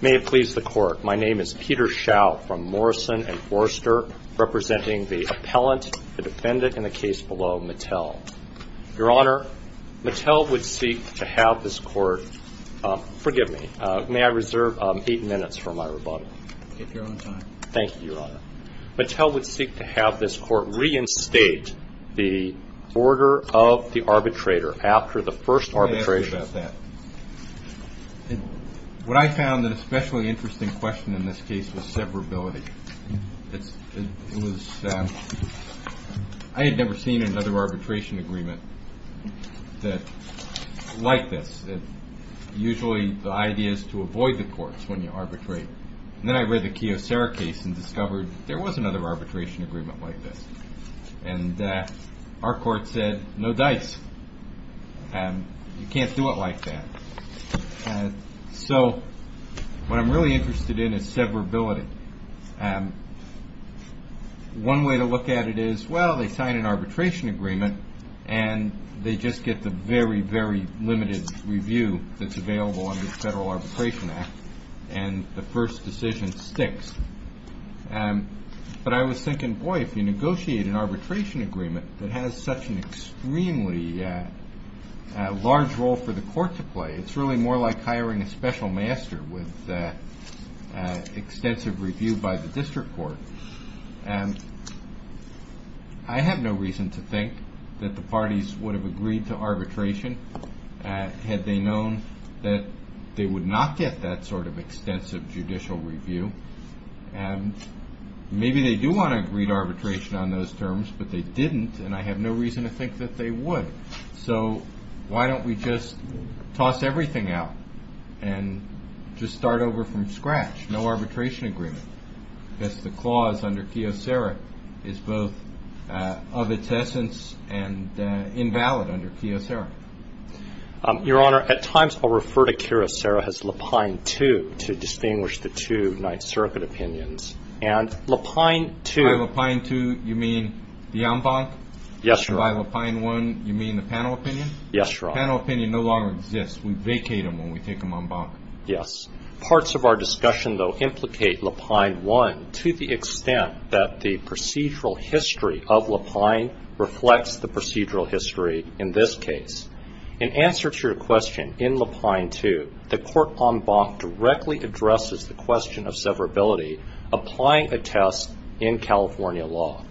May it please the Court, my name is Peter Schau from Morrison & Forster, representing the appellant, the defendant, and the case below, Mattel. Your Honor, Mattel would seek to have this Court, forgive me, may I reserve eight minutes for my rebuttal? If you're on time. Thank you, Your Honor. Mattel would seek to have this Court reinstate the order of the arbitrator after the first arbitration. What I found an especially interesting question in this case was severability. I had never seen another arbitration agreement like this. Usually the idea is to avoid the courts when you arbitrate. Then I read the Keosara case and discovered there was another arbitration agreement like this. Our court said, no dice. You can't do it like that. So what I'm really interested in is severability. One way to look at it is, well, they sign an arbitration agreement and they just get the very, very limited review that's available under the Federal Arbitration Act. And the first decision sticks. But I was thinking, boy, if you negotiate an arbitration agreement that has such an extremely large role for the court to play, it's really more like hiring a special master with extensive review by the district court. I have no reason to think that the parties would have agreed to arbitration had they known that they would not get that sort of extensive judicial review. And maybe they do want to read arbitration on those terms, but they didn't. And I have no reason to think that they would. So why don't we just toss everything out and just start over from scratch? No arbitration agreement. That's the clause under Keosara is both of its essence and invalid under Keosara. Your Honor, at times I'll refer to Keosara as Lapine 2 to distinguish the two Ninth Circuit opinions. And Lapine 2. By Lapine 2, you mean the en banc? Yes, Your Honor. By Lapine 1, you mean the panel opinion? Yes, Your Honor. Panel opinion no longer exists. We vacate them when we take them en banc. Yes. Parts of our discussion, though, implicate Lapine 1 to the extent that the procedural history of Lapine reflects the procedural history in this case. In answer to your question in Lapine 2, the court en banc directly addresses the question of severability applying a test in California law.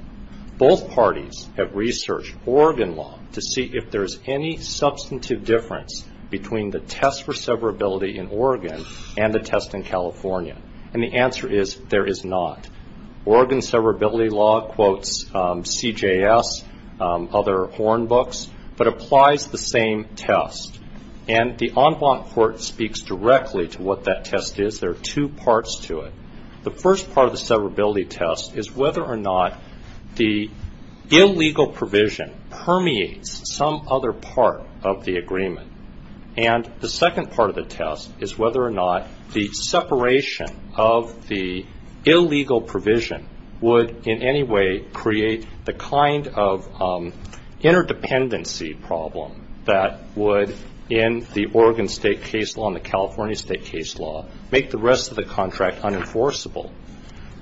Both parties have researched Oregon law to see if there's any substantive difference between the test for severability in Oregon and the test in California. And the answer is there is not. Oregon severability law quotes CJS, other horn books, but applies the same test. And the en banc court speaks directly to what that test is. There are two parts to it. The first part of the severability test is whether or not the illegal provision permeates some other part of the agreement. And the second part of the test is whether or not the separation of the illegal provision would in any way create the kind of interdependency problem that would in the Oregon state case law and the California state case law make the rest of the contract unenforceable.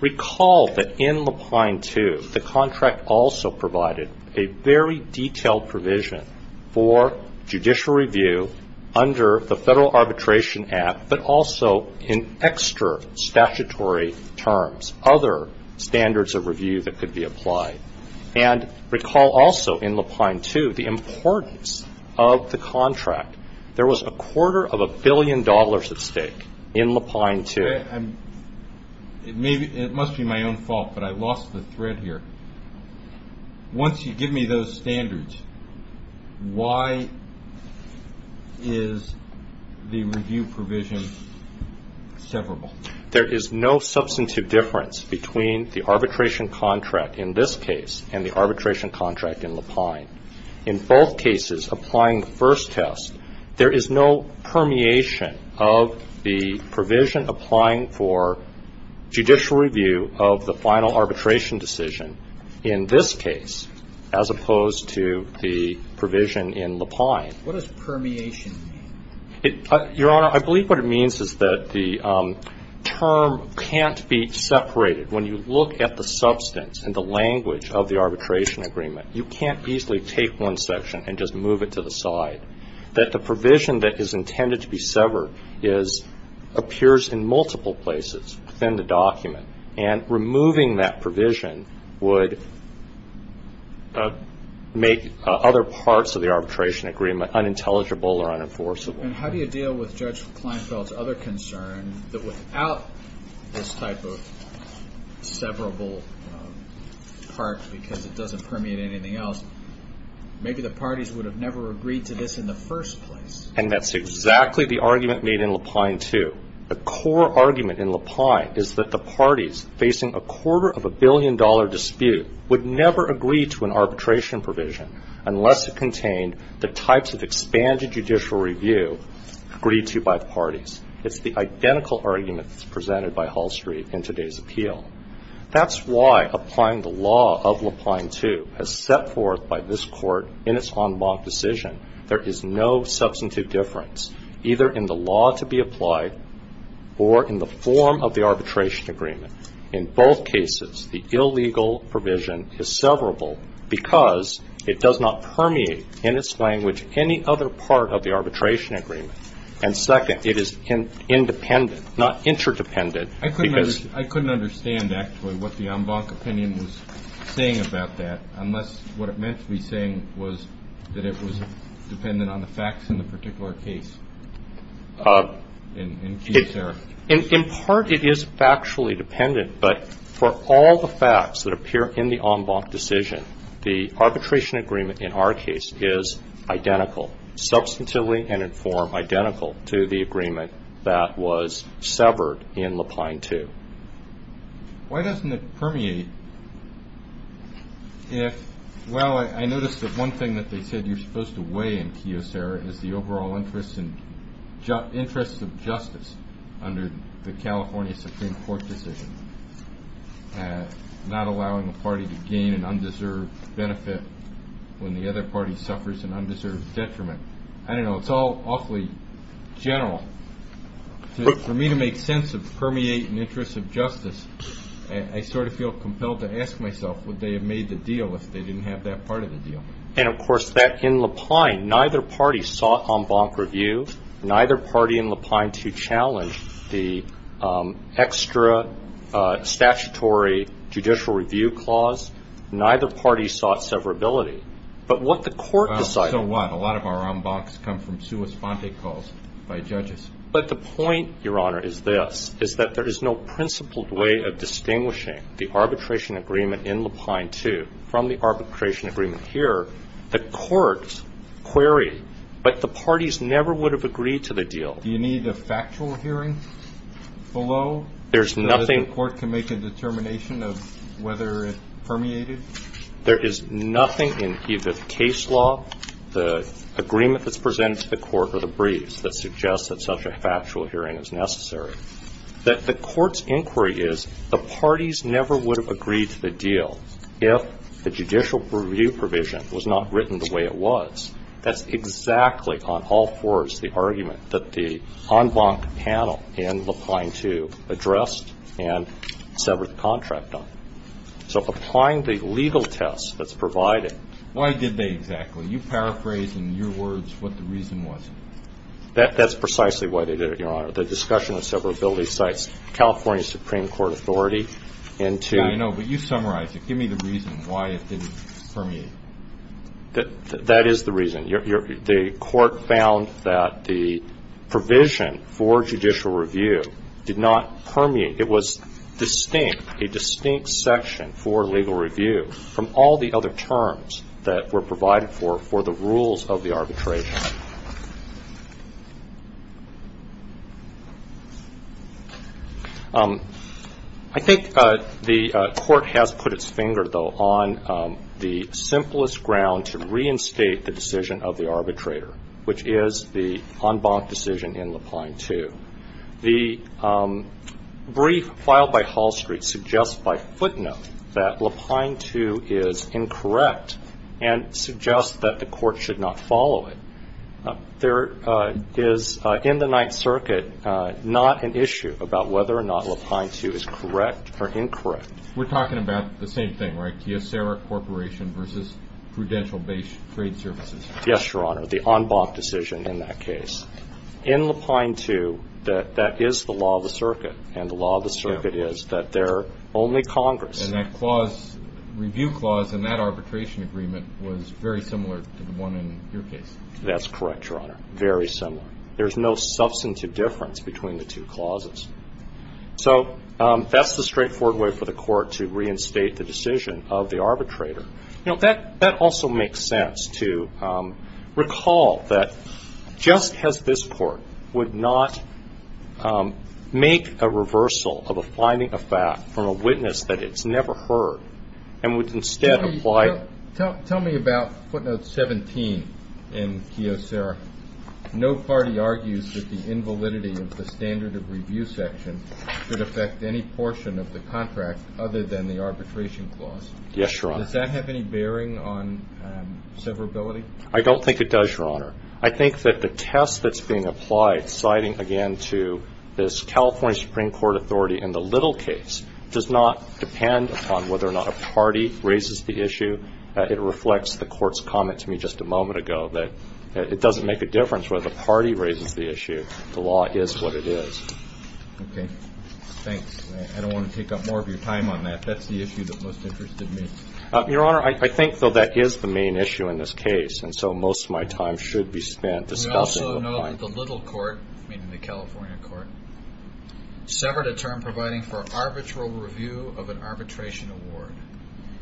Recall that in Lapine 2, the contract also provided a very detailed provision for judicial review under the Federal Arbitration Act, but also in extra statutory terms, other standards of review that could be applied. And recall also in Lapine 2 the importance of the contract. There was a quarter of a billion dollars at stake in Lapine 2. It must be my own fault, but I lost the thread here. Once you give me those standards, why is the review provision severable? There is no substantive difference between the arbitration contract in this case and the arbitration contract in Lapine. In both cases, applying the first test, there is no permeation of the provision applying for judicial review of the final arbitration decision in this case as opposed to the provision in Lapine. What does permeation mean? Your Honor, I believe what it means is that the term can't be separated. When you look at the substance and the language of the arbitration agreement, you can't easily take one section and just move it to the side, that the provision that is intended to be severed appears in multiple places within the document, and removing that provision would make other parts of the arbitration agreement unintelligible or unenforceable. And how do you deal with Judge Kleinfeld's other concern, that without this type of severable part because it doesn't permeate anything else, maybe the parties would have never agreed to this in the first place? And that's exactly the argument made in Lapine 2. The core argument in Lapine is that the parties facing a quarter-of-a-billion-dollar dispute would never agree to an arbitration provision unless it contained the types of expanded judicial review agreed to by the parties. It's the identical argument that's presented by Hall Street in today's appeal. That's why applying the law of Lapine 2, as set forth by this Court in its en banc decision, there is no substantive difference either in the law to be applied or in the form of the arbitration agreement. In both cases, the illegal provision is severable because it does not permeate in its language any other part of the arbitration agreement. And second, it is independent, not interdependent. I couldn't understand, actually, what the en banc opinion was saying about that, unless what it meant to be saying was that it was dependent on the facts in the particular case. In part, it is factually dependent, but for all the facts that appear in the en banc decision, the arbitration agreement in our case is identical, substantively and in form identical to the agreement that was severed in Lapine 2. Why doesn't it permeate? Well, I noticed that one thing that they said you're supposed to weigh in, Kiyosara, is the overall interest of justice under the California Supreme Court decision, not allowing a party to gain an undeserved benefit when the other party suffers an undeserved detriment. I don't know. It's all awfully general. For me to make sense of permeate and interest of justice, I sort of feel compelled to ask myself would they have made the deal if they didn't have that part of the deal. And, of course, that in Lapine, neither party sought en banc review. Neither party in Lapine 2 challenged the extra statutory judicial review clause. Neither party sought severability. But what the court decided. So what? A lot of our en bancs come from sua sponte calls by judges. But the point, Your Honor, is this, is that there is no principled way of distinguishing the arbitration agreement in Lapine 2 from the arbitration agreement here. The courts query, but the parties never would have agreed to the deal. Do you need a factual hearing below so that the court can make a determination of whether it permeated? There is nothing in either the case law, the agreement that's presented to the court or the briefs that suggests that such a factual hearing is necessary. The court's inquiry is the parties never would have agreed to the deal if the judicial review provision was not written the way it was. That's exactly on all fours the argument that the en banc panel in Lapine 2 addressed and severed the contract on. So applying the legal test that's provided. Why did they exactly? You paraphrased in your words what the reason was. That's precisely why they did it, Your Honor. The discussion of severability cites California Supreme Court authority into. Yeah, I know. But you summarized it. Give me the reason why it didn't permeate. That is the reason. The court found that the provision for judicial review did not permeate. It was distinct, a distinct section for legal review from all the other terms that were provided for for the rules of the arbitration. I think the court has put its finger, though, on the simplest ground to reinstate the decision of the arbitrator, which is the en banc decision in Lapine 2. The brief filed by Hall Street suggests by footnote that Lapine 2 is incorrect and suggests that the court should not follow it. There is in the Ninth Circuit not an issue about whether or not Lapine 2 is correct or incorrect. We're talking about the same thing, right, Kyocera Corporation versus Prudential Base Trade Services. Yes, Your Honor, the en banc decision in that case. In Lapine 2, that is the law of the circuit, and the law of the circuit is that there are only Congress. And that clause, review clause in that arbitration agreement, was very similar to the one in your case. That's correct, Your Honor, very similar. There's no substantive difference between the two clauses. So that's the straightforward way for the court to reinstate the decision of the arbitrator. You know, that also makes sense to recall that just as this court would not make a reversal of a finding of fact from a witness that it's never heard and would instead apply. Tell me about footnote 17 in Kyocera. No party argues that the invalidity of the standard of review section should affect any portion of the contract other than the arbitration clause. Yes, Your Honor. Does that have any bearing on severability? I don't think it does, Your Honor. I think that the test that's being applied, citing again to this California Supreme Court authority in the little case, does not depend upon whether or not a party raises the issue. It reflects the court's comment to me just a moment ago that it doesn't make a difference whether the party raises the issue. The law is what it is. Okay. Thanks. I don't want to take up more of your time on that. That's the issue that most interested me. Your Honor, I think, though, that is the main issue in this case, and so most of my time should be spent discussing the finding. We also know that the little court, meaning the California court, severed a term providing for arbitral review of an arbitration award.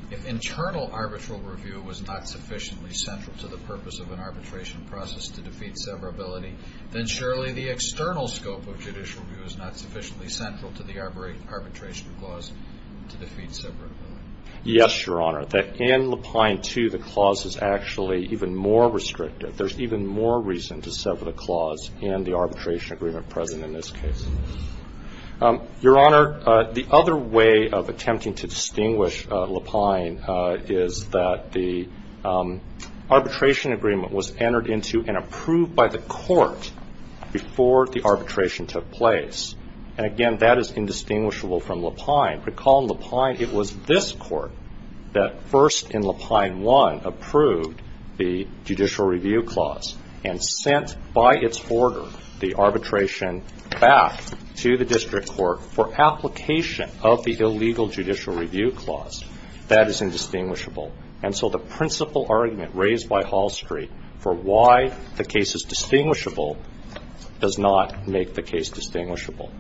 If internal arbitral review was not sufficiently central to the purpose of an arbitration process to defeat severability, then surely the external scope of judicial review is not sufficiently central to the arbitration clause to defeat severability. Yes, Your Honor. In Lapine 2, the clause is actually even more restrictive. There's even more reason to sever the clause in the arbitration agreement present in this case. Your Honor, the other way of attempting to distinguish Lapine is that the arbitration agreement was entered into and approved by the court before the arbitration took place. And, again, that is indistinguishable from Lapine. Recall in Lapine it was this court that first in Lapine 1 approved the judicial review clause and sent by its order the arbitration back to the district court for application of the illegal judicial review clause. That is indistinguishable. And so the principal argument raised by Hall Street for why the case is distinguishable does not make the case distinguishable.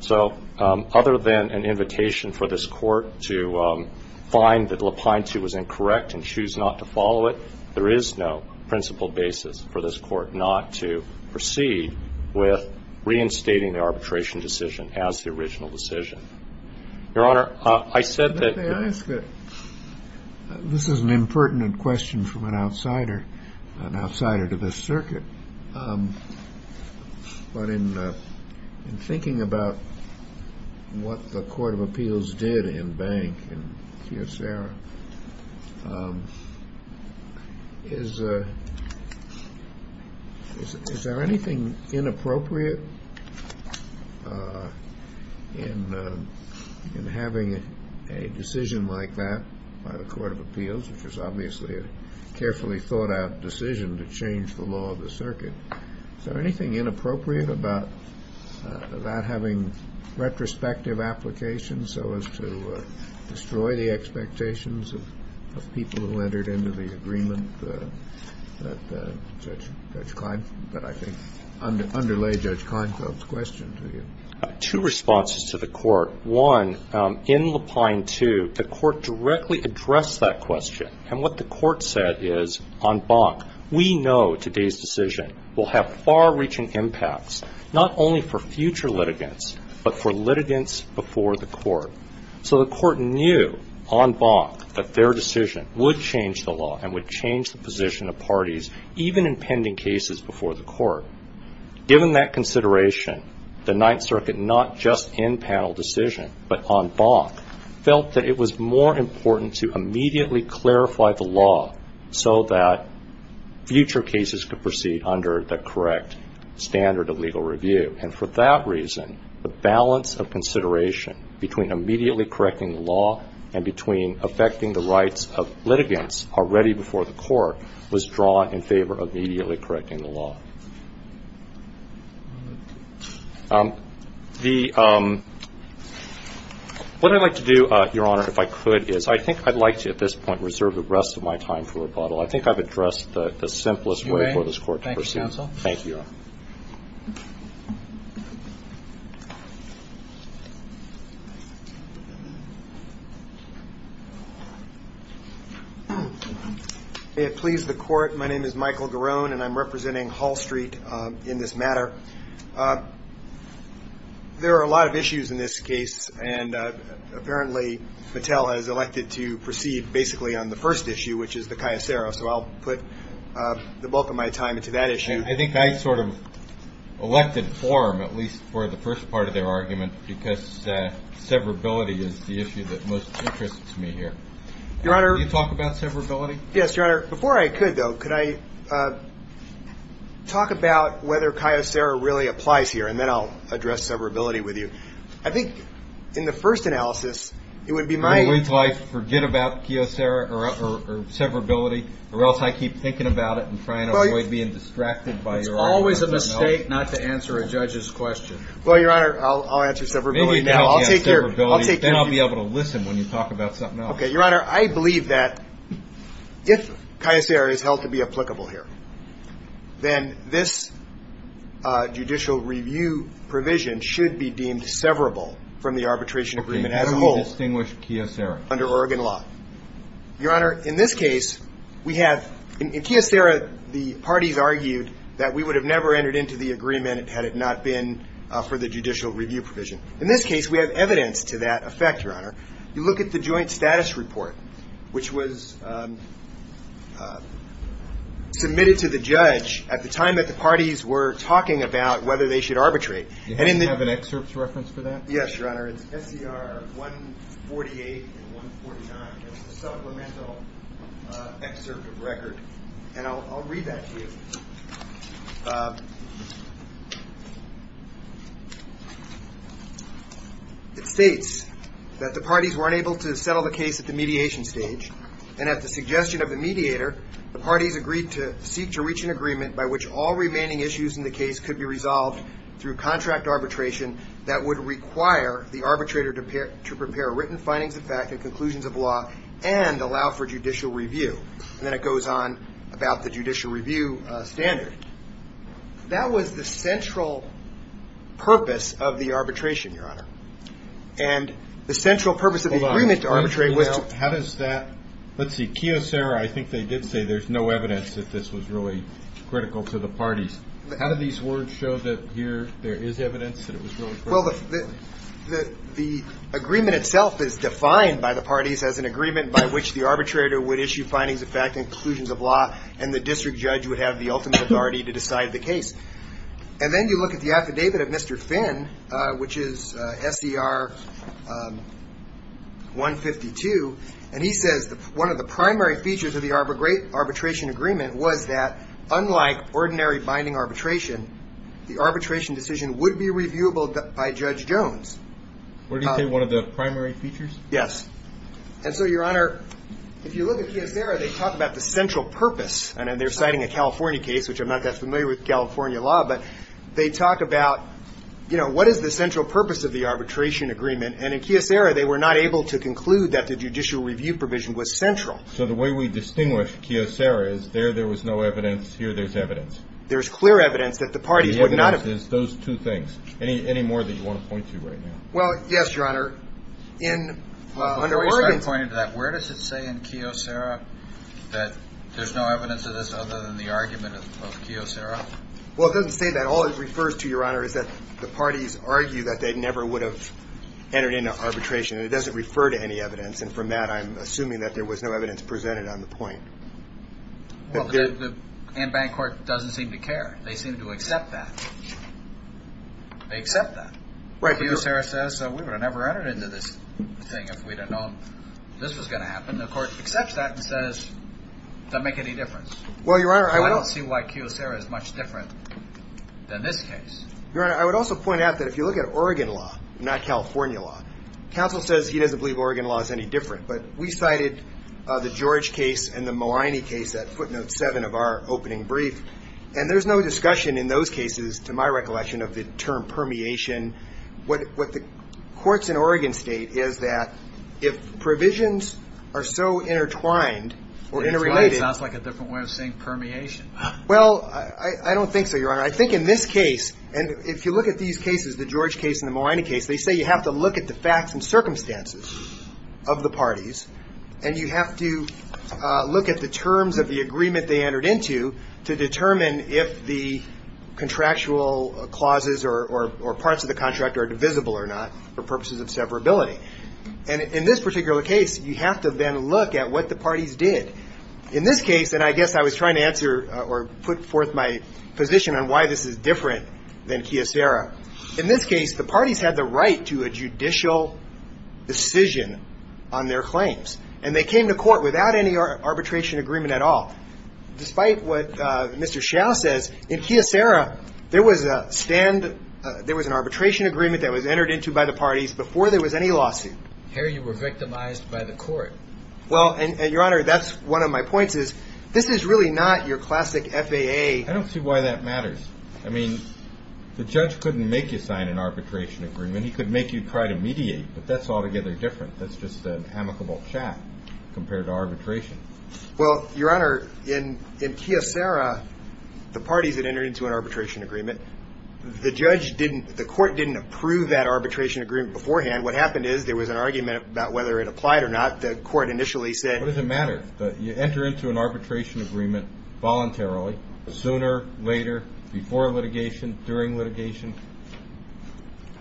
So other than an invitation for this court to find that Lapine 2 was incorrect and choose not to follow it, there is no principal basis for this court not to proceed with reinstating the arbitration decision as the original decision. Your Honor, I said that. This is an impertinent question from an outsider, an outsider to this circuit. But in thinking about what the Court of Appeals did in Bank and here, Sarah, is there anything inappropriate in having a decision like that by the Court of Appeals, which is obviously a carefully thought-out decision to change the law of the circuit, is there anything inappropriate about that having retrospective applications so as to destroy the expectations of people who entered into the agreement that I think underlay Judge Kleinfeld's question to you? Two responses to the court. One, in Lapine 2, the court directly addressed that question. And what the court said is, on Bank, we know today's decision will have far-reaching impacts, not only for future litigants but for litigants before the court. So the court knew on Bank that their decision would change the law and would change the position of parties even in pending cases before the court. Given that consideration, the Ninth Circuit, not just in panel decision but on Bank, felt that it was more important to immediately clarify the law so that future cases could proceed under the correct standard of legal review. And for that reason, the balance of consideration between immediately correcting the law and between affecting the rights of litigants already before the court was drawn in favor of immediately correcting the law. The ñ what I'd like to do, Your Honor, if I could, is I think I'd like to at this point reserve the rest of my time for rebuttal. I think I've addressed the simplest way for this court to proceed. Thank you, counsel. Thank you, Your Honor. May it please the court, my name is Michael Garone and I'm representing Hall Street in this matter. There are a lot of issues in this case, and apparently Mattel has elected to proceed basically on the first issue, which is the caesaro. So I'll put the bulk of my time into that issue. I think I sort of elected for him, at least for the first part of their argument, because severability is the issue that most interests me here. Your Honor. Can you talk about severability? Yes, Your Honor. Before I could, though, could I talk about whether caesaro really applies here, and then I'll address severability with you. I think in the first analysis, it would be my ñ Would I forget about caesaro or severability, or else I keep thinking about it and trying to avoid being distracted by your argument? Well, it's always a mistake not to answer a judge's question. Well, Your Honor, I'll answer severability now. I'll take your ñ I'll take your ñ Then I'll be able to listen when you talk about something else. Okay. Your Honor, I believe that if caesaro is held to be applicable here, then this judicial review provision should be deemed severable from the arbitration agreement as a whole. Okay. Can you distinguish caesaro? Under Oregon law. Your Honor, in this case, we have ñ in caesaro, the parties argued that we would have never entered into the agreement had it not been for the judicial review provision. In this case, we have evidence to that effect, Your Honor. You look at the joint status report, which was submitted to the judge at the time that the parties were talking about whether they should arbitrate. Do you have an excerpt reference for that? Yes, Your Honor. It's SCR 148 and 149. It's a supplemental excerpt of record. And I'll read that to you. It states that the parties were unable to settle the case at the mediation stage and at the suggestion of the mediator, the parties agreed to seek to reach an agreement by which all remaining issues in the case could be resolved through contract arbitration that would require the arbitrator to prepare written findings of fact and conclusions of law and allow for judicial review. And then it goes on about the judicial review standard. That was the central purpose of the arbitration, Your Honor. And the central purpose of the agreement to arbitrate was ñ Hold on. How does that ñ let's see, caesaro, I think they did say there's no evidence that this was really critical to the parties. How do these words show that here there is evidence that it was really critical? Well, the agreement itself is defined by the parties as an agreement by which the arbitrator would issue findings of fact and conclusions of law and the district judge would have the ultimate authority to decide the case. And then you look at the affidavit of Mr. Finn, which is SCR 152, and he says one of the primary features of the arbitration agreement was that unlike ordinary binding arbitration, the arbitration decision would be reviewable by Judge Jones. What did he say? One of the primary features? Yes. And so, Your Honor, if you look at caesaro, they talk about the central purpose. And they're citing a California case, which I'm not that familiar with California law, but they talk about, you know, what is the central purpose of the arbitration agreement. And in caesaro, they were not able to conclude that the judicial review provision was central. So the way we distinguish caesaro is there there was no evidence, here there's evidence. There's clear evidence that the parties would not have. The evidence is those two things. Any more that you want to point to right now? Well, yes, Your Honor. Well, I'm sorry to point you to that. Where does it say in caesaro that there's no evidence of this other than the argument of caesaro? Well, it doesn't say that. All it refers to, Your Honor, is that the parties argue that they never would have entered into arbitration. It doesn't refer to any evidence. And from that, I'm assuming that there was no evidence presented on the point. Well, the in-bank court doesn't seem to care. They seem to accept that. They accept that. Caesaro says we would have never entered into this thing if we'd have known this was going to happen. The court accepts that and says it doesn't make any difference. I don't see why caesaro is much different than this case. Your Honor, I would also point out that if you look at Oregon law, not California law, counsel says he doesn't believe Oregon law is any different. But we cited the George case and the Maligni case at footnote 7 of our opening brief, and there's no discussion in those cases, to my recollection, of the term permeation. What the courts in Oregon state is that if provisions are so intertwined or interrelated. That's why it sounds like a different way of saying permeation. Well, I don't think so, Your Honor. I think in this case, and if you look at these cases, the George case and the Maligni case, they say you have to look at the facts and circumstances of the parties, and you have to look at the terms of the agreement they entered into to determine if the contractual clauses or parts of the contract are divisible or not for purposes of severability. And in this particular case, you have to then look at what the parties did. In this case, and I guess I was trying to answer or put forth my position on why this is different than caesaro. In this case, the parties had the right to a judicial decision on their claims, and they came to court without any arbitration agreement at all. Despite what Mr. Hsiao says, in caesaro, there was a stand, there was an arbitration agreement that was entered into by the parties before there was any lawsuit. Here you were victimized by the court. Well, and, Your Honor, that's one of my points is this is really not your classic FAA. I don't see why that matters. I mean, the judge couldn't make you sign an arbitration agreement. He could make you try to mediate, but that's altogether different. That's just an amicable chat compared to arbitration. Well, Your Honor, in caesaro, the parties had entered into an arbitration agreement. The judge didn't, the court didn't approve that arbitration agreement beforehand. What happened is there was an argument about whether it applied or not. The court initially said. What does it matter? You enter into an arbitration agreement voluntarily, sooner, later, before litigation, during litigation.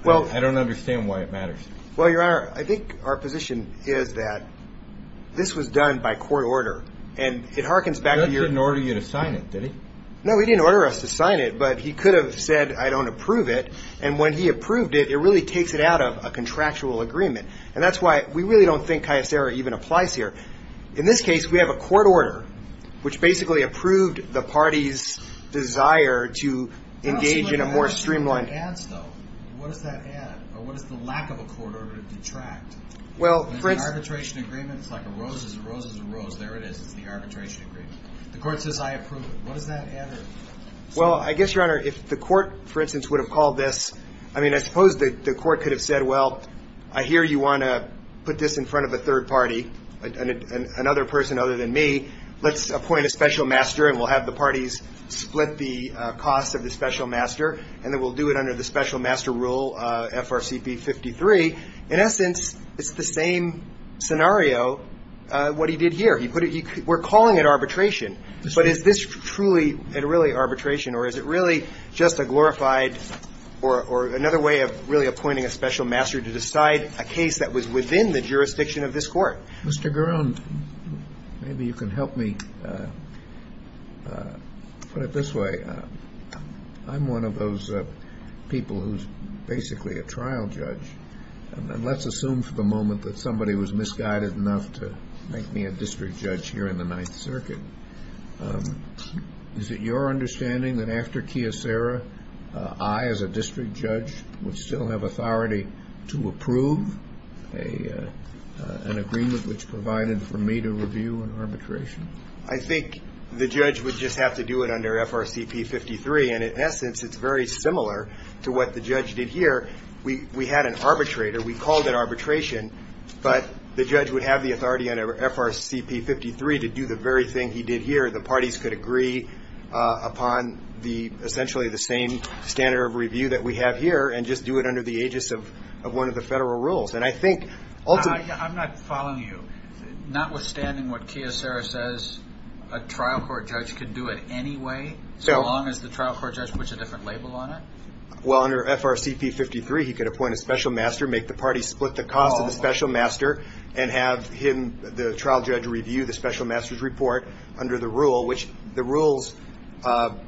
I don't understand why it matters. Well, Your Honor, I think our position is that this was done by court order, and it harkens back to your... The judge didn't order you to sign it, did he? No, he didn't order us to sign it, but he could have said I don't approve it, and when he approved it, it really takes it out of a contractual agreement, and that's why we really don't think caesaro even applies here. In this case, we have a court order, which basically approved the party's desire to engage in a more streamlined... I don't see how that adds, though. What does that add, or what does the lack of a court order detract? Well... In an arbitration agreement, it's like a rose is a rose is a rose. There it is. It's the arbitration agreement. The court says I approve it. What does that add? Well, I guess, Your Honor, if the court, for instance, would have called this... I mean, I suppose the court could have said, well, I hear you want to put this in front of a third party, another person other than me. Let's appoint a special master, and we'll have the parties split the costs of the special master, and then we'll do it under the special master rule, FRCP 53. In essence, it's the same scenario, what he did here. We're calling it arbitration, but is this truly and really arbitration, or is it really just a glorified or another way of really appointing a special master to decide a case that was within the jurisdiction of this court? Mr. Guron, maybe you can help me put it this way. I'm one of those people who's basically a trial judge, and let's assume for the moment that somebody was misguided enough to make me a district judge here in the Ninth Circuit. Is it your understanding that after Kyocera, I, as a district judge, would still have authority to approve an agreement which provided for me to review an arbitration? I think the judge would just have to do it under FRCP 53, and in essence it's very similar to what the judge did here. We had an arbitrator. We called it arbitration, but the judge would have the authority under FRCP 53 to do the very thing he did here. The parties could agree upon essentially the same standard of review that we have here and just do it under the aegis of one of the federal rules, and I think ultimately— I'm not following you. Notwithstanding what Kyocera says, a trial court judge could do it anyway, so long as the trial court judge puts a different label on it? Well, under FRCP 53, he could appoint a special master, make the parties split the cost of the special master, and have him, the trial judge, review the special master's report under the rule, which the rules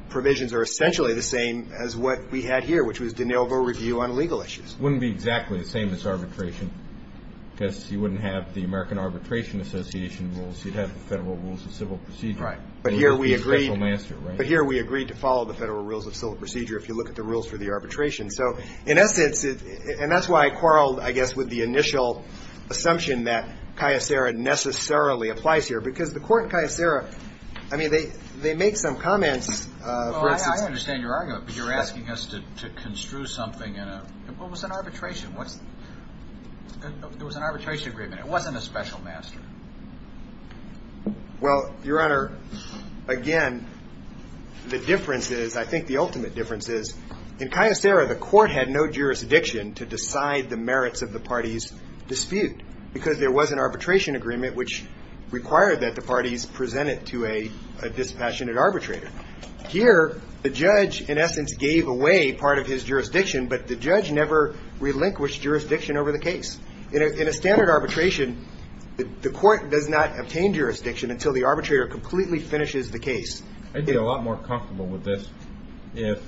provisions are essentially the same as what we had here, which was de novo review on legal issues. It wouldn't be exactly the same as arbitration because you wouldn't have the American Arbitration Association rules. You'd have the federal rules of civil procedure. Right. But here we agreed to follow the federal rules of civil procedure if you look at the rules for the arbitration. So, in essence, and that's why I quarreled, I guess, with the initial assumption that Kyocera necessarily applies here because the court in Kyocera, I mean, they make some comments. Well, I understand your argument, but you're asking us to construe something in a— what was an arbitration? There was an arbitration agreement. It wasn't a special master. Well, Your Honor, again, the difference is, I think the ultimate difference is, in Kyocera, the court had no jurisdiction to decide the merits of the party's dispute because there was an arbitration agreement which required that the parties present it to a dispassionate arbitrator. Here, the judge, in essence, gave away part of his jurisdiction, but the judge never relinquished jurisdiction over the case. In a standard arbitration, the court does not obtain jurisdiction until the arbitrator completely finishes the case. I'd be a lot more comfortable with this if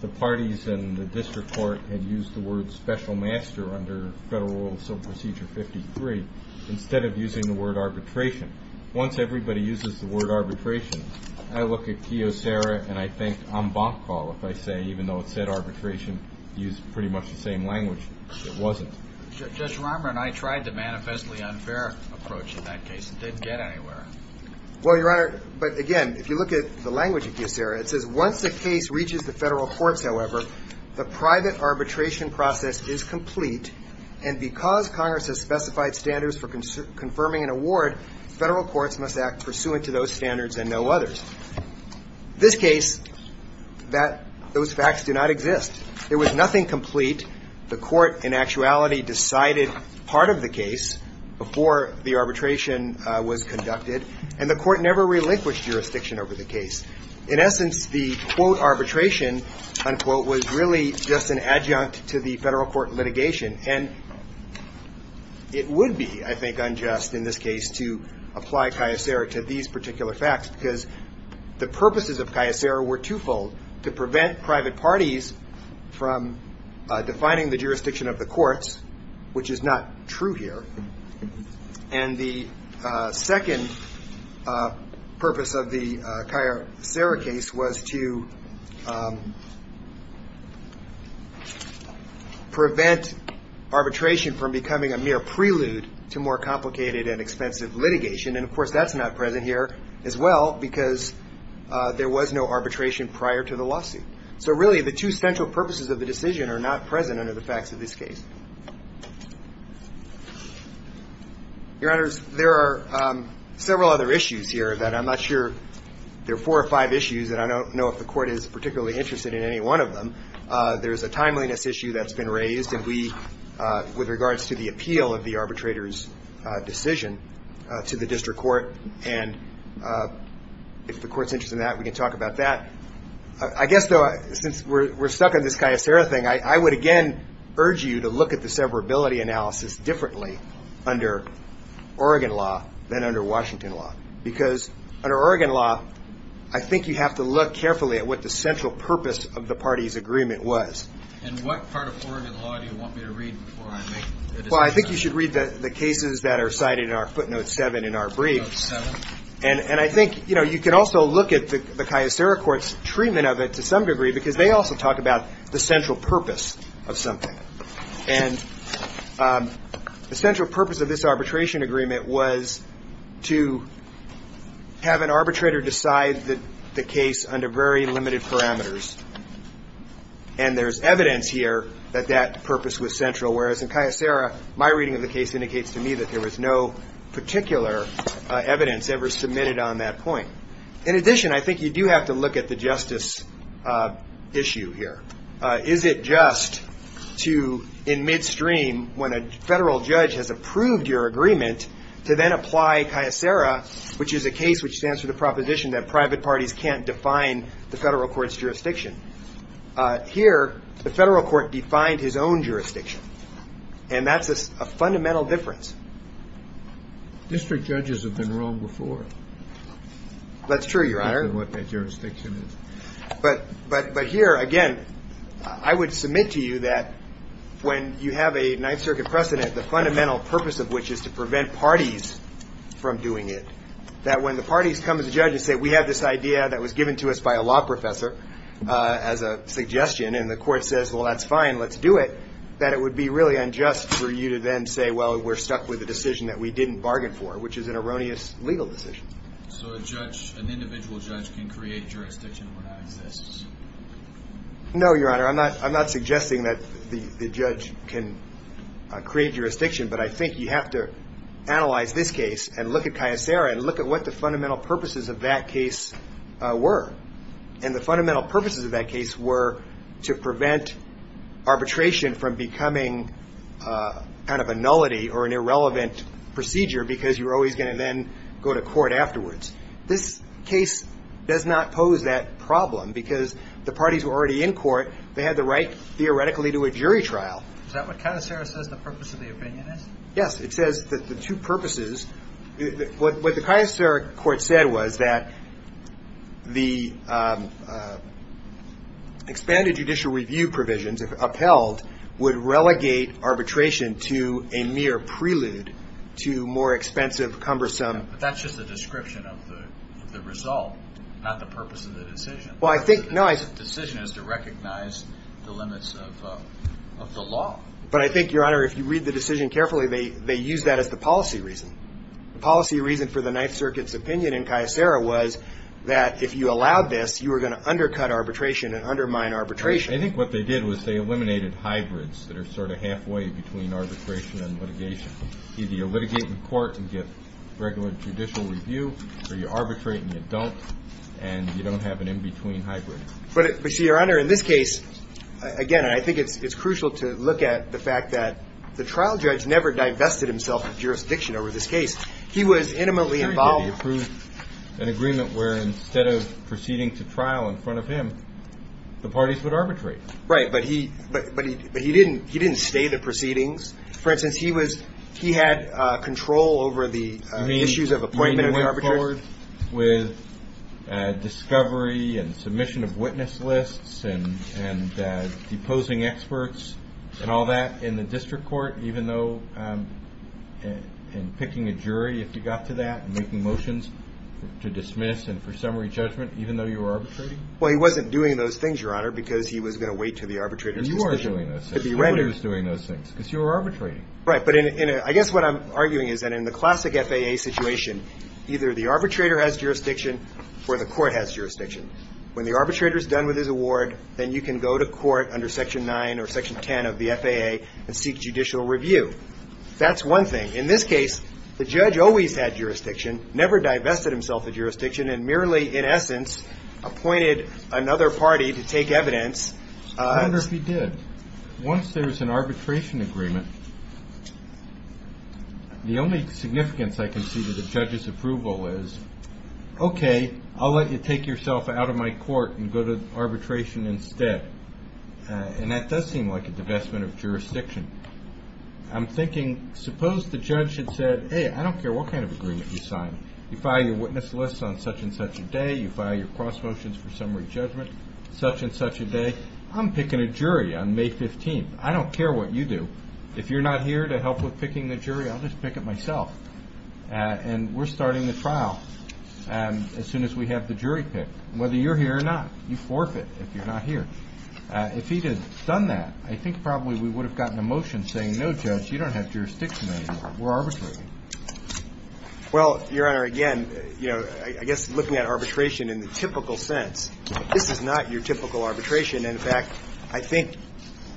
the parties in the district court had used the word special master under Federal Rule of Civil Procedure 53 instead of using the word arbitration. Once everybody uses the word arbitration, I look at Kyocera and I think en banc, if I say, even though it said arbitration, used pretty much the same language. It wasn't. Judge Romer and I tried the manifestly unfair approach in that case. It didn't get anywhere. Well, Your Honor, but again, if you look at the language of Kyocera, it says once the case reaches the Federal courts, however, the private arbitration process is complete and because Congress has specified standards for confirming an award, Federal courts must act pursuant to those standards and no others. This case, that those facts do not exist. There was nothing complete. The court, in actuality, decided part of the case before the arbitration was conducted and the court never relinquished jurisdiction over the case. In essence, the, quote, arbitration, unquote, was really just an adjunct to the Federal court litigation and it would be, I think, unjust in this case to apply Kyocera to these particular facts because the purposes of Kyocera were twofold, to prevent private parties from defining the jurisdiction of the courts, which is not true here, and the second purpose of the Kyocera case was to prevent arbitration from becoming a mere prelude to more complicated and expensive litigation and, of course, that's not present here as well because there was no arbitration prior to the lawsuit. So really, the two central purposes of the decision are not present under the facts of this case. Your Honors, there are several other issues here that I'm not sure, there are four or five issues that I don't know if the court is particularly interested in any one of them. There's a timeliness issue that's been raised and we, with regards to the appeal of the arbitrator's decision to the district court, and if the court's interested in that, we can talk about that. I guess, though, since we're stuck on this Kyocera thing, I would again urge you to look at the severability analysis differently under Oregon law than under Washington law because under Oregon law, I think you have to look carefully at what the central purpose of the parties' agreement was. And what part of Oregon law do you want me to read before I make the decision? Well, I think you should read the cases that are cited in our footnote 7 in our brief. Footnote 7? And I think you can also look at the Kyocera court's treatment of it to some degree because they also talk about the central purpose of something. And the central purpose of this arbitration agreement was to have an arbitrator decide the case under very limited parameters. And there's evidence here that that purpose was central, whereas in Kyocera, my reading of the case indicates to me that there was no particular evidence ever submitted on that point. In addition, I think you do have to look at the justice issue here. Is it just to, in midstream, when a federal judge has approved your agreement, to then apply Kyocera, which is a case which stands for the proposition that private parties can't define the federal court's jurisdiction? Here, the federal court defined his own jurisdiction, and that's a fundamental difference. District judges have been wrong before. That's true, Your Honor. Given what their jurisdiction is. But here, again, I would submit to you that when you have a Ninth Circuit precedent, the fundamental purpose of which is to prevent parties from doing it, that when the parties come to the judge and say, we have this idea that was given to us by a law professor as a suggestion, and the court says, well, that's fine, let's do it, that it would be really unjust for you to then say, well, we're stuck with a decision that we didn't bargain for, which is an erroneous legal decision. So a judge, an individual judge, can create jurisdiction where that exists? No, Your Honor. I'm not suggesting that the judge can create jurisdiction, but I think you have to analyze this case and look at Kyocera and look at what the fundamental purposes of that case were. And the fundamental purposes of that case were to prevent arbitration from becoming kind of a nullity or an irrelevant procedure because you were always going to then go to court afterwards. This case does not pose that problem because the parties were already in court. They had the right, theoretically, to a jury trial. Is that what Kyocera says the purpose of the opinion is? Yes. It says that the two purposes – What the Kyocera court said was that the expanded judicial review provisions upheld would relegate arbitration to a mere prelude to more expensive, cumbersome – But that's just a description of the result, not the purpose of the decision. Well, I think – The decision is to recognize the limits of the law. But I think, Your Honor, if you read the decision carefully, they use that as the policy reason. The policy reason for the Ninth Circuit's opinion in Kyocera was that if you allowed this, you were going to undercut arbitration and undermine arbitration. I think what they did was they eliminated hybrids that are sort of halfway between arbitration and litigation. Either you litigate in court and get regular judicial review or you arbitrate and you don't, and you don't have an in-between hybrid. But, Your Honor, in this case, again, I think it's crucial to look at the fact that the trial judge never divested himself of jurisdiction over this case. He was intimately involved. He approved an agreement where instead of proceeding to trial in front of him, the parties would arbitrate. Right. But he didn't stay the proceedings. For instance, he was – he had control over the issues of appointment and arbitration. You mean he went forward with discovery and submission of witness lists and deposing experts and all that in the district court, even though in picking a jury, if you got to that, and making motions to dismiss and for summary judgment, even though you were arbitrating? Well, he wasn't doing those things, Your Honor, because he was going to wait until the arbitrator's decision. You weren't doing those things. Nobody was doing those things. Because you were arbitrating. Right. But I guess what I'm arguing is that in the classic FAA situation, either the arbitrator has jurisdiction or the court has jurisdiction. When the arbitrator is done with his award, then you can go to court under Section 9 or Section 10 of the FAA and seek judicial review. That's one thing. In this case, the judge always had jurisdiction, never divested himself of jurisdiction, and merely, in essence, appointed another party to take evidence. I wonder if he did. Once there's an arbitration agreement, the only significance I can see to the judge's approval is, okay, I'll let you take yourself out of my court and go to arbitration instead. And that does seem like a divestment of jurisdiction. I'm thinking, suppose the judge had said, hey, I don't care what kind of agreement you sign. You file your witness list on such and such a day. You file your cross motions for summary judgment such and such a day. I'm picking a jury on May 15th. I don't care what you do. If you're not here to help with picking the jury, I'll just pick it myself. And we're starting the trial as soon as we have the jury picked. Whether you're here or not, you forfeit if you're not here. If he had done that, I think probably we would have gotten a motion saying, no, Judge, you don't have jurisdiction anymore. We're arbitrating. Well, Your Honor, again, you know, I guess looking at arbitration in the typical sense, this is not your typical arbitration. In fact, I think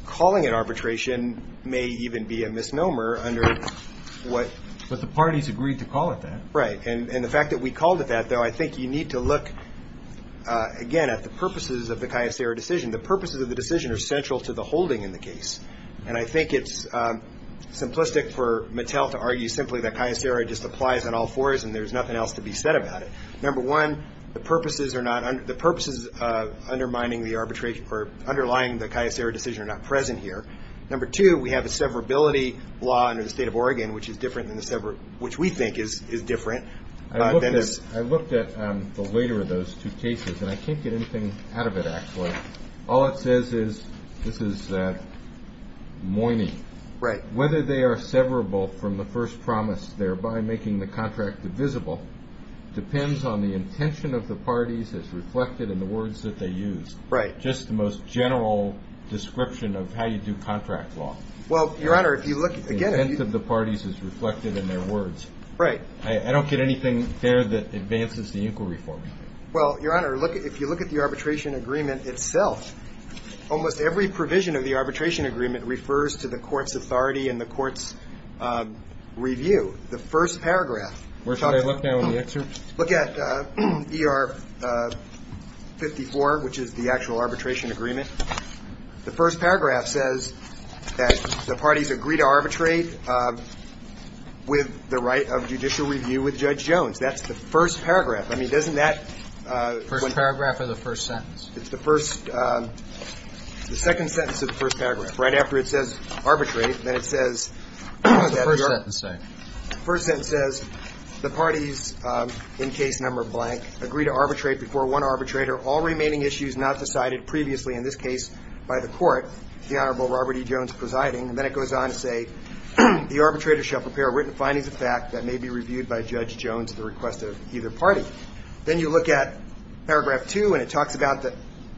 calling it arbitration may even be a misnomer under what ---- Parties agreed to call it that. Right. And the fact that we called it that, though, I think you need to look, again, at the purposes of the CAYASERA decision. The purposes of the decision are central to the holding in the case. And I think it's simplistic for Mattel to argue simply that CAYASERA just applies on all fours and there's nothing else to be said about it. Number one, the purposes undermining the arbitration or underlying the CAYASERA decision are not present here. Number two, we have a severability law under the State of Oregon, which we think is different than this. I looked at the later of those two cases, and I can't get anything out of it, actually. All it says is, this is moiny. Right. Whether they are severable from the first promise, thereby making the contract divisible, depends on the intention of the parties as reflected in the words that they use. Right. Just the most general description of how you do contract law. Well, Your Honor, if you look, again, The intent of the parties is reflected in their words. Right. I don't get anything there that advances the inquiry for me. Well, Your Honor, if you look at the arbitration agreement itself, almost every provision of the arbitration agreement refers to the court's authority and the court's review. The first paragraph talks about Where should I look now in the excerpt? Look at ER 54, which is the actual arbitration agreement. The first paragraph says that the parties agree to arbitrate with the right of judicial review with Judge Jones. That's the first paragraph. I mean, doesn't that First paragraph or the first sentence? It's the first – the second sentence of the first paragraph. Right after it says arbitrate, then it says What does the first sentence say? The first sentence says, The parties, in case number blank, agree to arbitrate before one arbitrator, all remaining issues not decided previously in this case by the court, the Honorable Robert E. Jones presiding. And then it goes on to say, The arbitrator shall prepare written findings of fact that may be reviewed by Judge Jones at the request of either party. Then you look at paragraph 2, and it talks about the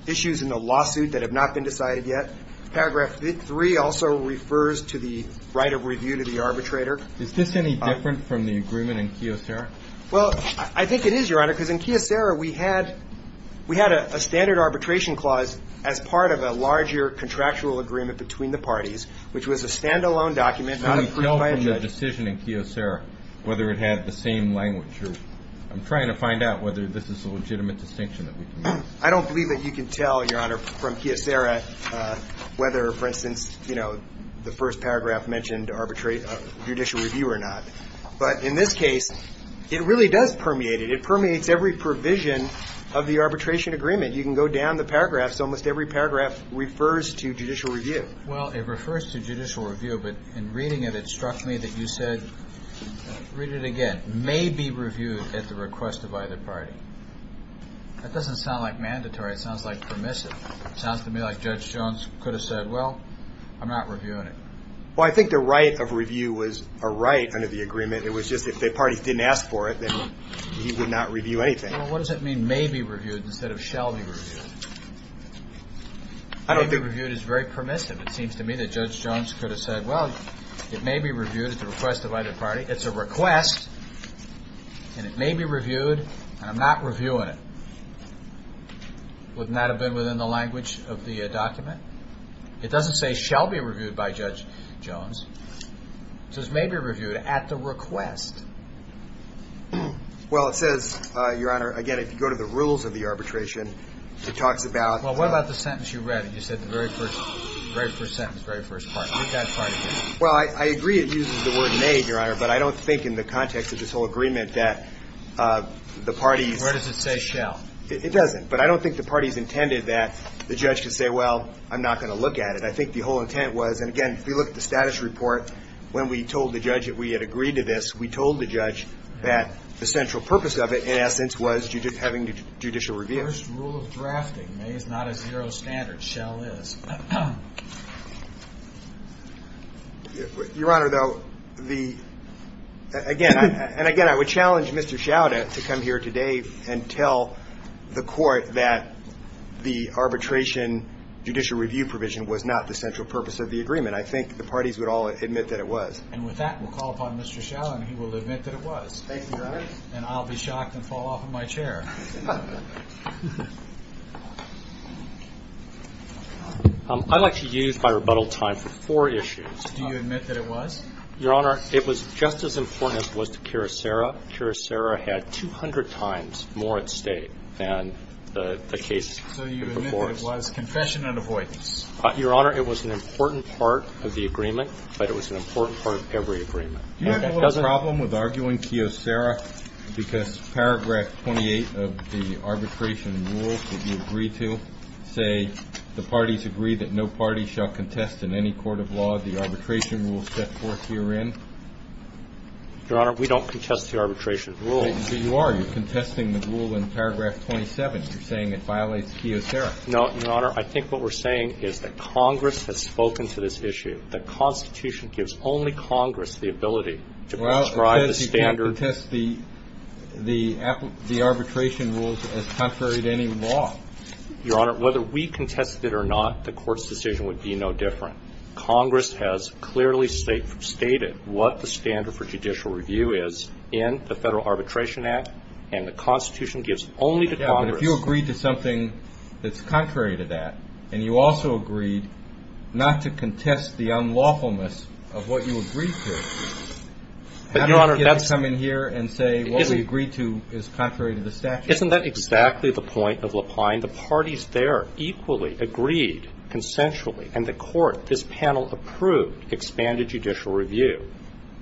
issues in the lawsuit that have not been decided yet. Paragraph 3 also refers to the right of review to the arbitrator. Is this any different from the agreement in Kyocera? Well, I think it is, Your Honor, because in Kyocera, we had a standard arbitration clause as part of a larger contractual agreement between the parties, which was a standalone document not approved by a judge. Can you tell from the decision in Kyocera whether it had the same language? I'm trying to find out whether this is a legitimate distinction that we can make. I don't believe that you can tell, Your Honor, from Kyocera whether, for instance, the first paragraph mentioned judicial review or not. But in this case, it really does permeate it. It permeates every provision of the arbitration agreement. You can go down the paragraphs. Almost every paragraph refers to judicial review. Well, it refers to judicial review, but in reading it, it struck me that you said, read it again, may be reviewed at the request of either party. That doesn't sound like mandatory. It sounds like permissive. It sounds to me like Judge Jones could have said, well, I'm not reviewing it. Well, I think the right of review was a right under the agreement. It was just if the parties didn't ask for it, then he would not review anything. Well, what does it mean may be reviewed instead of shall be reviewed? I don't think. May be reviewed is very permissive. It seems to me that Judge Jones could have said, well, it may be reviewed at the request of either party. It's a request, and it may be reviewed, and I'm not reviewing it. Wouldn't that have been within the language of the document? It doesn't say shall be reviewed by Judge Jones. It says may be reviewed at the request. Well, it says, Your Honor, again, if you go to the rules of the arbitration, it talks about the – Well, what about the sentence you read? You said the very first sentence, very first part. What does that part mean? Well, I agree it uses the word may, Your Honor, but I don't think in the context of this whole agreement that the parties – Where does it say shall? It doesn't, but I don't think the parties intended that the judge could say, well, I'm not going to look at it. I think the whole intent was – and again, if you look at the status report, when we told the judge that we had agreed to this, we told the judge that the central purpose of it, in essence, was having the judicial review. The first rule of drafting, may is not a zero standard. Shall is. Your Honor, though, the – again, and again, I would challenge Mr. Schauder to come here today and tell the court that the arbitration judicial review provision was not the central purpose of the agreement. I think the parties would all admit that it was. And with that, we'll call upon Mr. Schauder, and he will admit that it was. Thank you, Your Honor. And I'll be shocked and fall off of my chair. I'd like to use my rebuttal time for four issues. Do you admit that it was? Your Honor, it was just as important as it was to Kyocera. Kyocera had 200 times more at stake than the case before us. So you admit that it was confession and avoidance. Your Honor, it was an important part of the agreement, but it was an important part of every agreement. Do you have a little problem with arguing Kyocera because paragraph 28 of the arbitration rules that you agree to say the parties agree that no party shall contest in any court of law the arbitration rules set forth herein? Your Honor, we don't contest the arbitration rules. But you are. You're contesting the rule in paragraph 27. You're saying it violates Kyocera. No, Your Honor. I think what we're saying is that Congress has spoken to this issue. The Constitution gives only Congress the ability to prescribe the standard. Well, it says you can't contest the arbitration rules as contrary to any law. Your Honor, whether we contest it or not, the Court's decision would be no different. Congress has clearly stated what the standard for judicial review is in the Federal Arbitration Act. And the Constitution gives only to Congress. But if you agree to something that's contrary to that, and you also agreed not to contest the unlawfulness of what you agreed to, how do you get to come in here and say what we agreed to is contrary to the statute? Isn't that exactly the point of Lapline? The parties there equally agreed consensually, and the Court, this panel, approved expanded judicial review.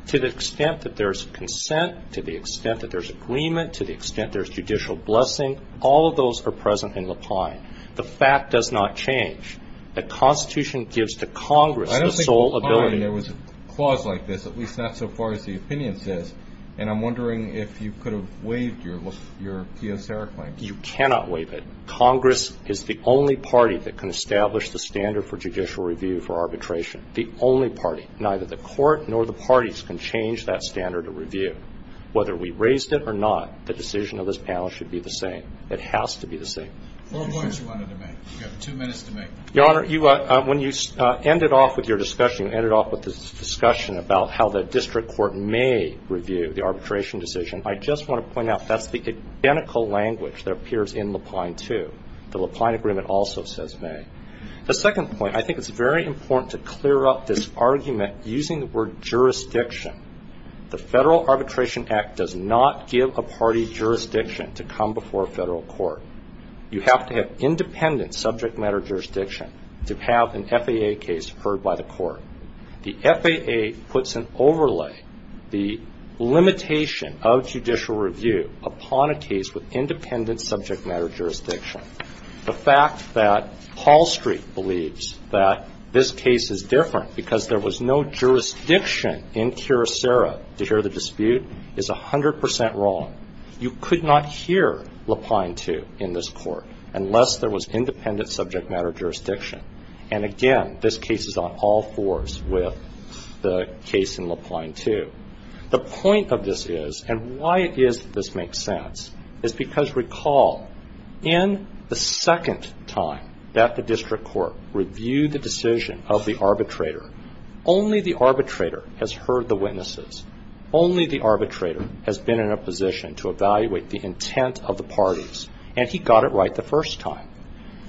To the extent that there's consent, to the extent that there's agreement, to the extent there's judicial blessing, all of those are present in Lapline. The fact does not change. The Constitution gives to Congress the sole ability. I don't think Lapline, there was a clause like this, at least not so far as the opinion says. And I'm wondering if you could have waived your Kyocera claim. You cannot waive it. Congress is the only party that can establish the standard for judicial review for arbitration, the only party. Neither the Court nor the parties can change that standard of review. Whether we raised it or not, the decision of this panel should be the same. It has to be the same. Four points you wanted to make. You have two minutes to make. Your Honor, when you ended off with your discussion, you ended off with this discussion about how the district court may review the arbitration decision. I just want to point out that's the identical language that appears in Lapline, too. The Lapline agreement also says may. The second point, I think it's very important to clear up this argument using the word jurisdiction. The Federal Arbitration Act does not give a party jurisdiction to come before a federal court. You have to have independent subject matter jurisdiction to have an FAA case heard by the court. The FAA puts an overlay, the limitation of judicial review upon a case with independent subject matter jurisdiction. The fact that Hall Street believes that this case is different because there was no jurisdiction in Curacera to hear the dispute is 100 percent wrong. You could not hear Lapline, too, in this court unless there was independent subject matter jurisdiction. And, again, this case is on all fours with the case in Lapline, too. The point of this is, and why it is that this makes sense, is because, recall, in the second time that the district court reviewed the decision of the arbitrator, only the arbitrator has heard the witnesses. Only the arbitrator has been in a position to evaluate the intent of the parties, and he got it right the first time.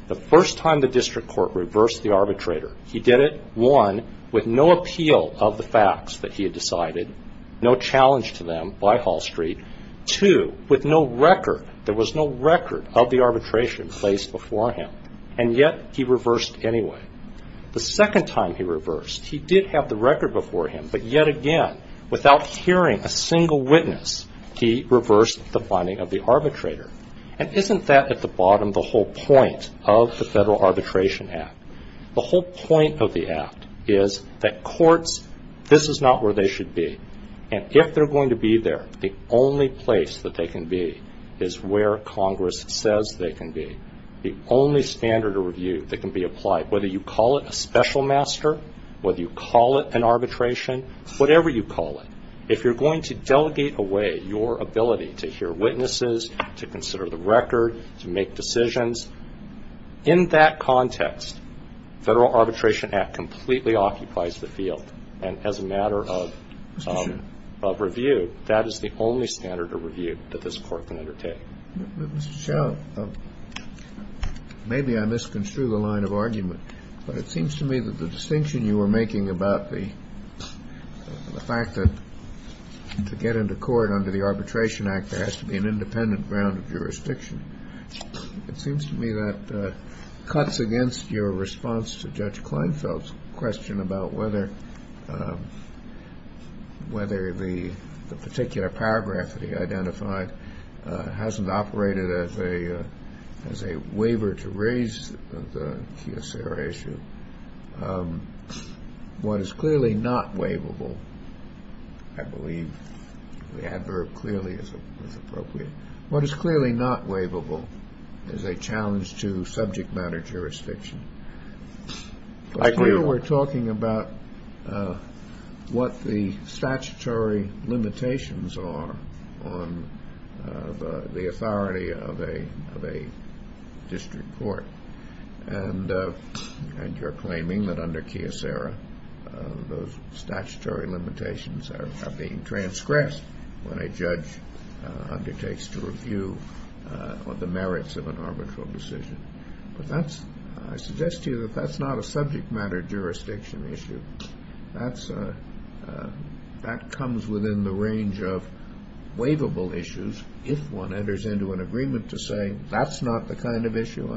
The first time the district court reversed the arbitrator, he did it, one, with no appeal of the facts that he had decided, no challenge to them by Hall Street, two, with no record, there was no record of the arbitration placed before him, and yet he reversed anyway. The second time he reversed, he did have the record before him, but yet again, without hearing a single witness, he reversed the finding of the arbitrator. And isn't that, at the bottom, the whole point of the Federal Arbitration Act? The whole point of the Act is that courts, this is not where they should be. And if they're going to be there, the only place that they can be is where Congress says they can be. The only standard of review that can be applied, whether you call it a special master, whether you call it an arbitration, whatever you call it, if you're going to delegate away your ability to hear witnesses, to consider the record, to make decisions, in that context, Federal Arbitration Act completely occupies the field. And as a matter of review, that is the only standard of review that this Court can undertake. Mr. Shell, maybe I misconstrued the line of argument, but it seems to me that the distinction you were making about the fact that to get into court under the Arbitration Act, there has to be an independent ground of jurisdiction, it seems to me that cuts against your response to Judge Kleinfeld's question about whether the particular paragraph that he identified hasn't operated as a waiver to raise the kioser issue. What is clearly not waivable, I believe the adverb clearly is appropriate, what is clearly not waivable is a challenge to subject matter jurisdiction. I agree we're talking about what the statutory limitations are on the authority of a district court. And you're claiming that under kioser, those statutory limitations are being transgressed when a judge undertakes to review the merits of an arbitral decision. But I suggest to you that that's not a subject matter jurisdiction issue. That comes within the range of waivable issues if one enters into an agreement to say, that's not the kind of issue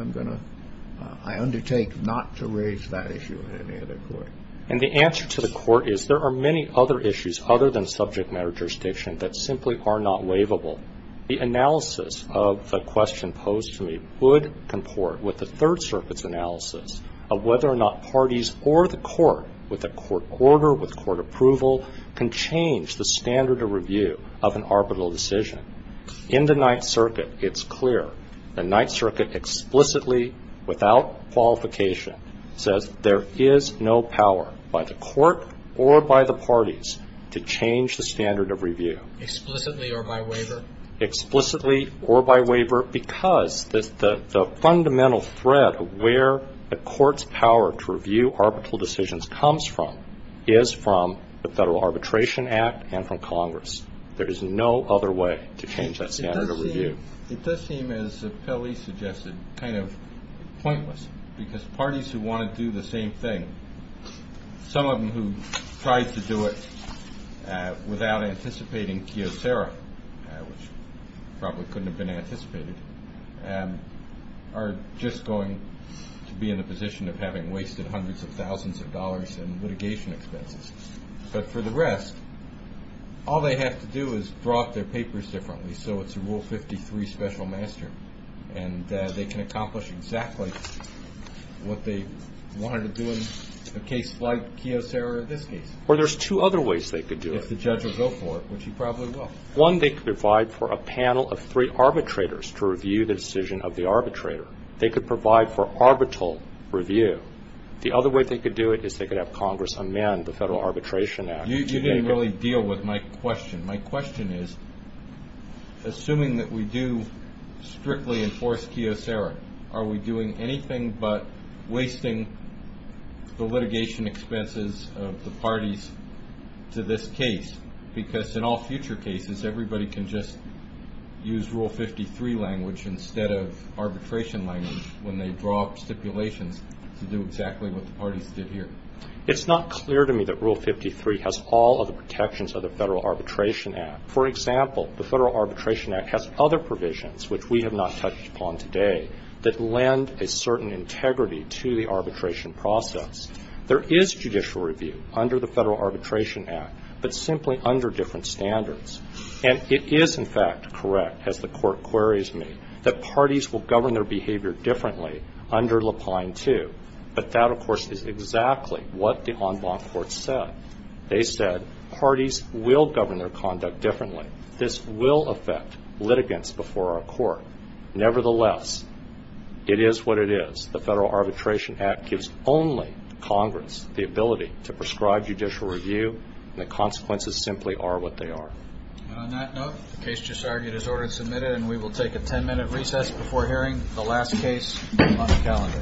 I undertake not to raise that issue in any other court. And the answer to the Court is there are many other issues other than subject matter jurisdiction that simply are not waivable. The analysis of the question posed to me would comport with the Third Circuit's analysis of whether or not parties or the court, with a court order, with court approval, can change the standard of review of an arbitral decision. In the Ninth Circuit, it's clear. The Ninth Circuit explicitly, without qualification, says there is no power by the court or by the parties to change the standard of review. Explicitly or by waiver? Explicitly or by waiver because the fundamental thread of where a court's power to review arbitral decisions comes from, is from the Federal Arbitration Act and from Congress. There is no other way to change that standard of review. It does seem, as Pelley suggested, kind of pointless because parties who want to do the same thing, some of them who tried to do it without anticipating kiosera, which probably couldn't have been anticipated, are just going to be in the position of having wasted hundreds of thousands of dollars in litigation expenses. But for the rest, all they have to do is draw up their papers differently so it's a Rule 53 special master and they can accomplish exactly what they wanted to do in a case like kiosera or this case. Well, there's two other ways they could do it. If the judge will go for it, which he probably will. One, they could provide for a panel of three arbitrators to review the decision of the arbitrator. They could provide for arbitral review. The other way they could do it is they could have Congress amend the Federal Arbitration Act. You didn't really deal with my question. My question is, assuming that we do strictly enforce kiosera, are we doing anything but wasting the litigation expenses of the parties to this case? Because in all future cases, everybody can just use Rule 53 language instead of arbitration language when they draw up stipulations to do exactly what the parties did here. It's not clear to me that Rule 53 has all of the protections of the Federal Arbitration Act. For example, the Federal Arbitration Act has other provisions, which we have not touched upon today, that lend a certain integrity to the arbitration process. There is judicial review under the Federal Arbitration Act, but simply under different standards. And it is, in fact, correct, as the Court queries me, that parties will govern their behavior differently under Lapine 2. But that, of course, is exactly what the en banc court said. They said parties will govern their conduct differently. This will affect litigants before our court. Nevertheless, it is what it is. The Federal Arbitration Act gives only Congress the ability to prescribe judicial review, and the consequences simply are what they are. We will take a ten-minute recess before hearing the last case on the calendar. Thank you.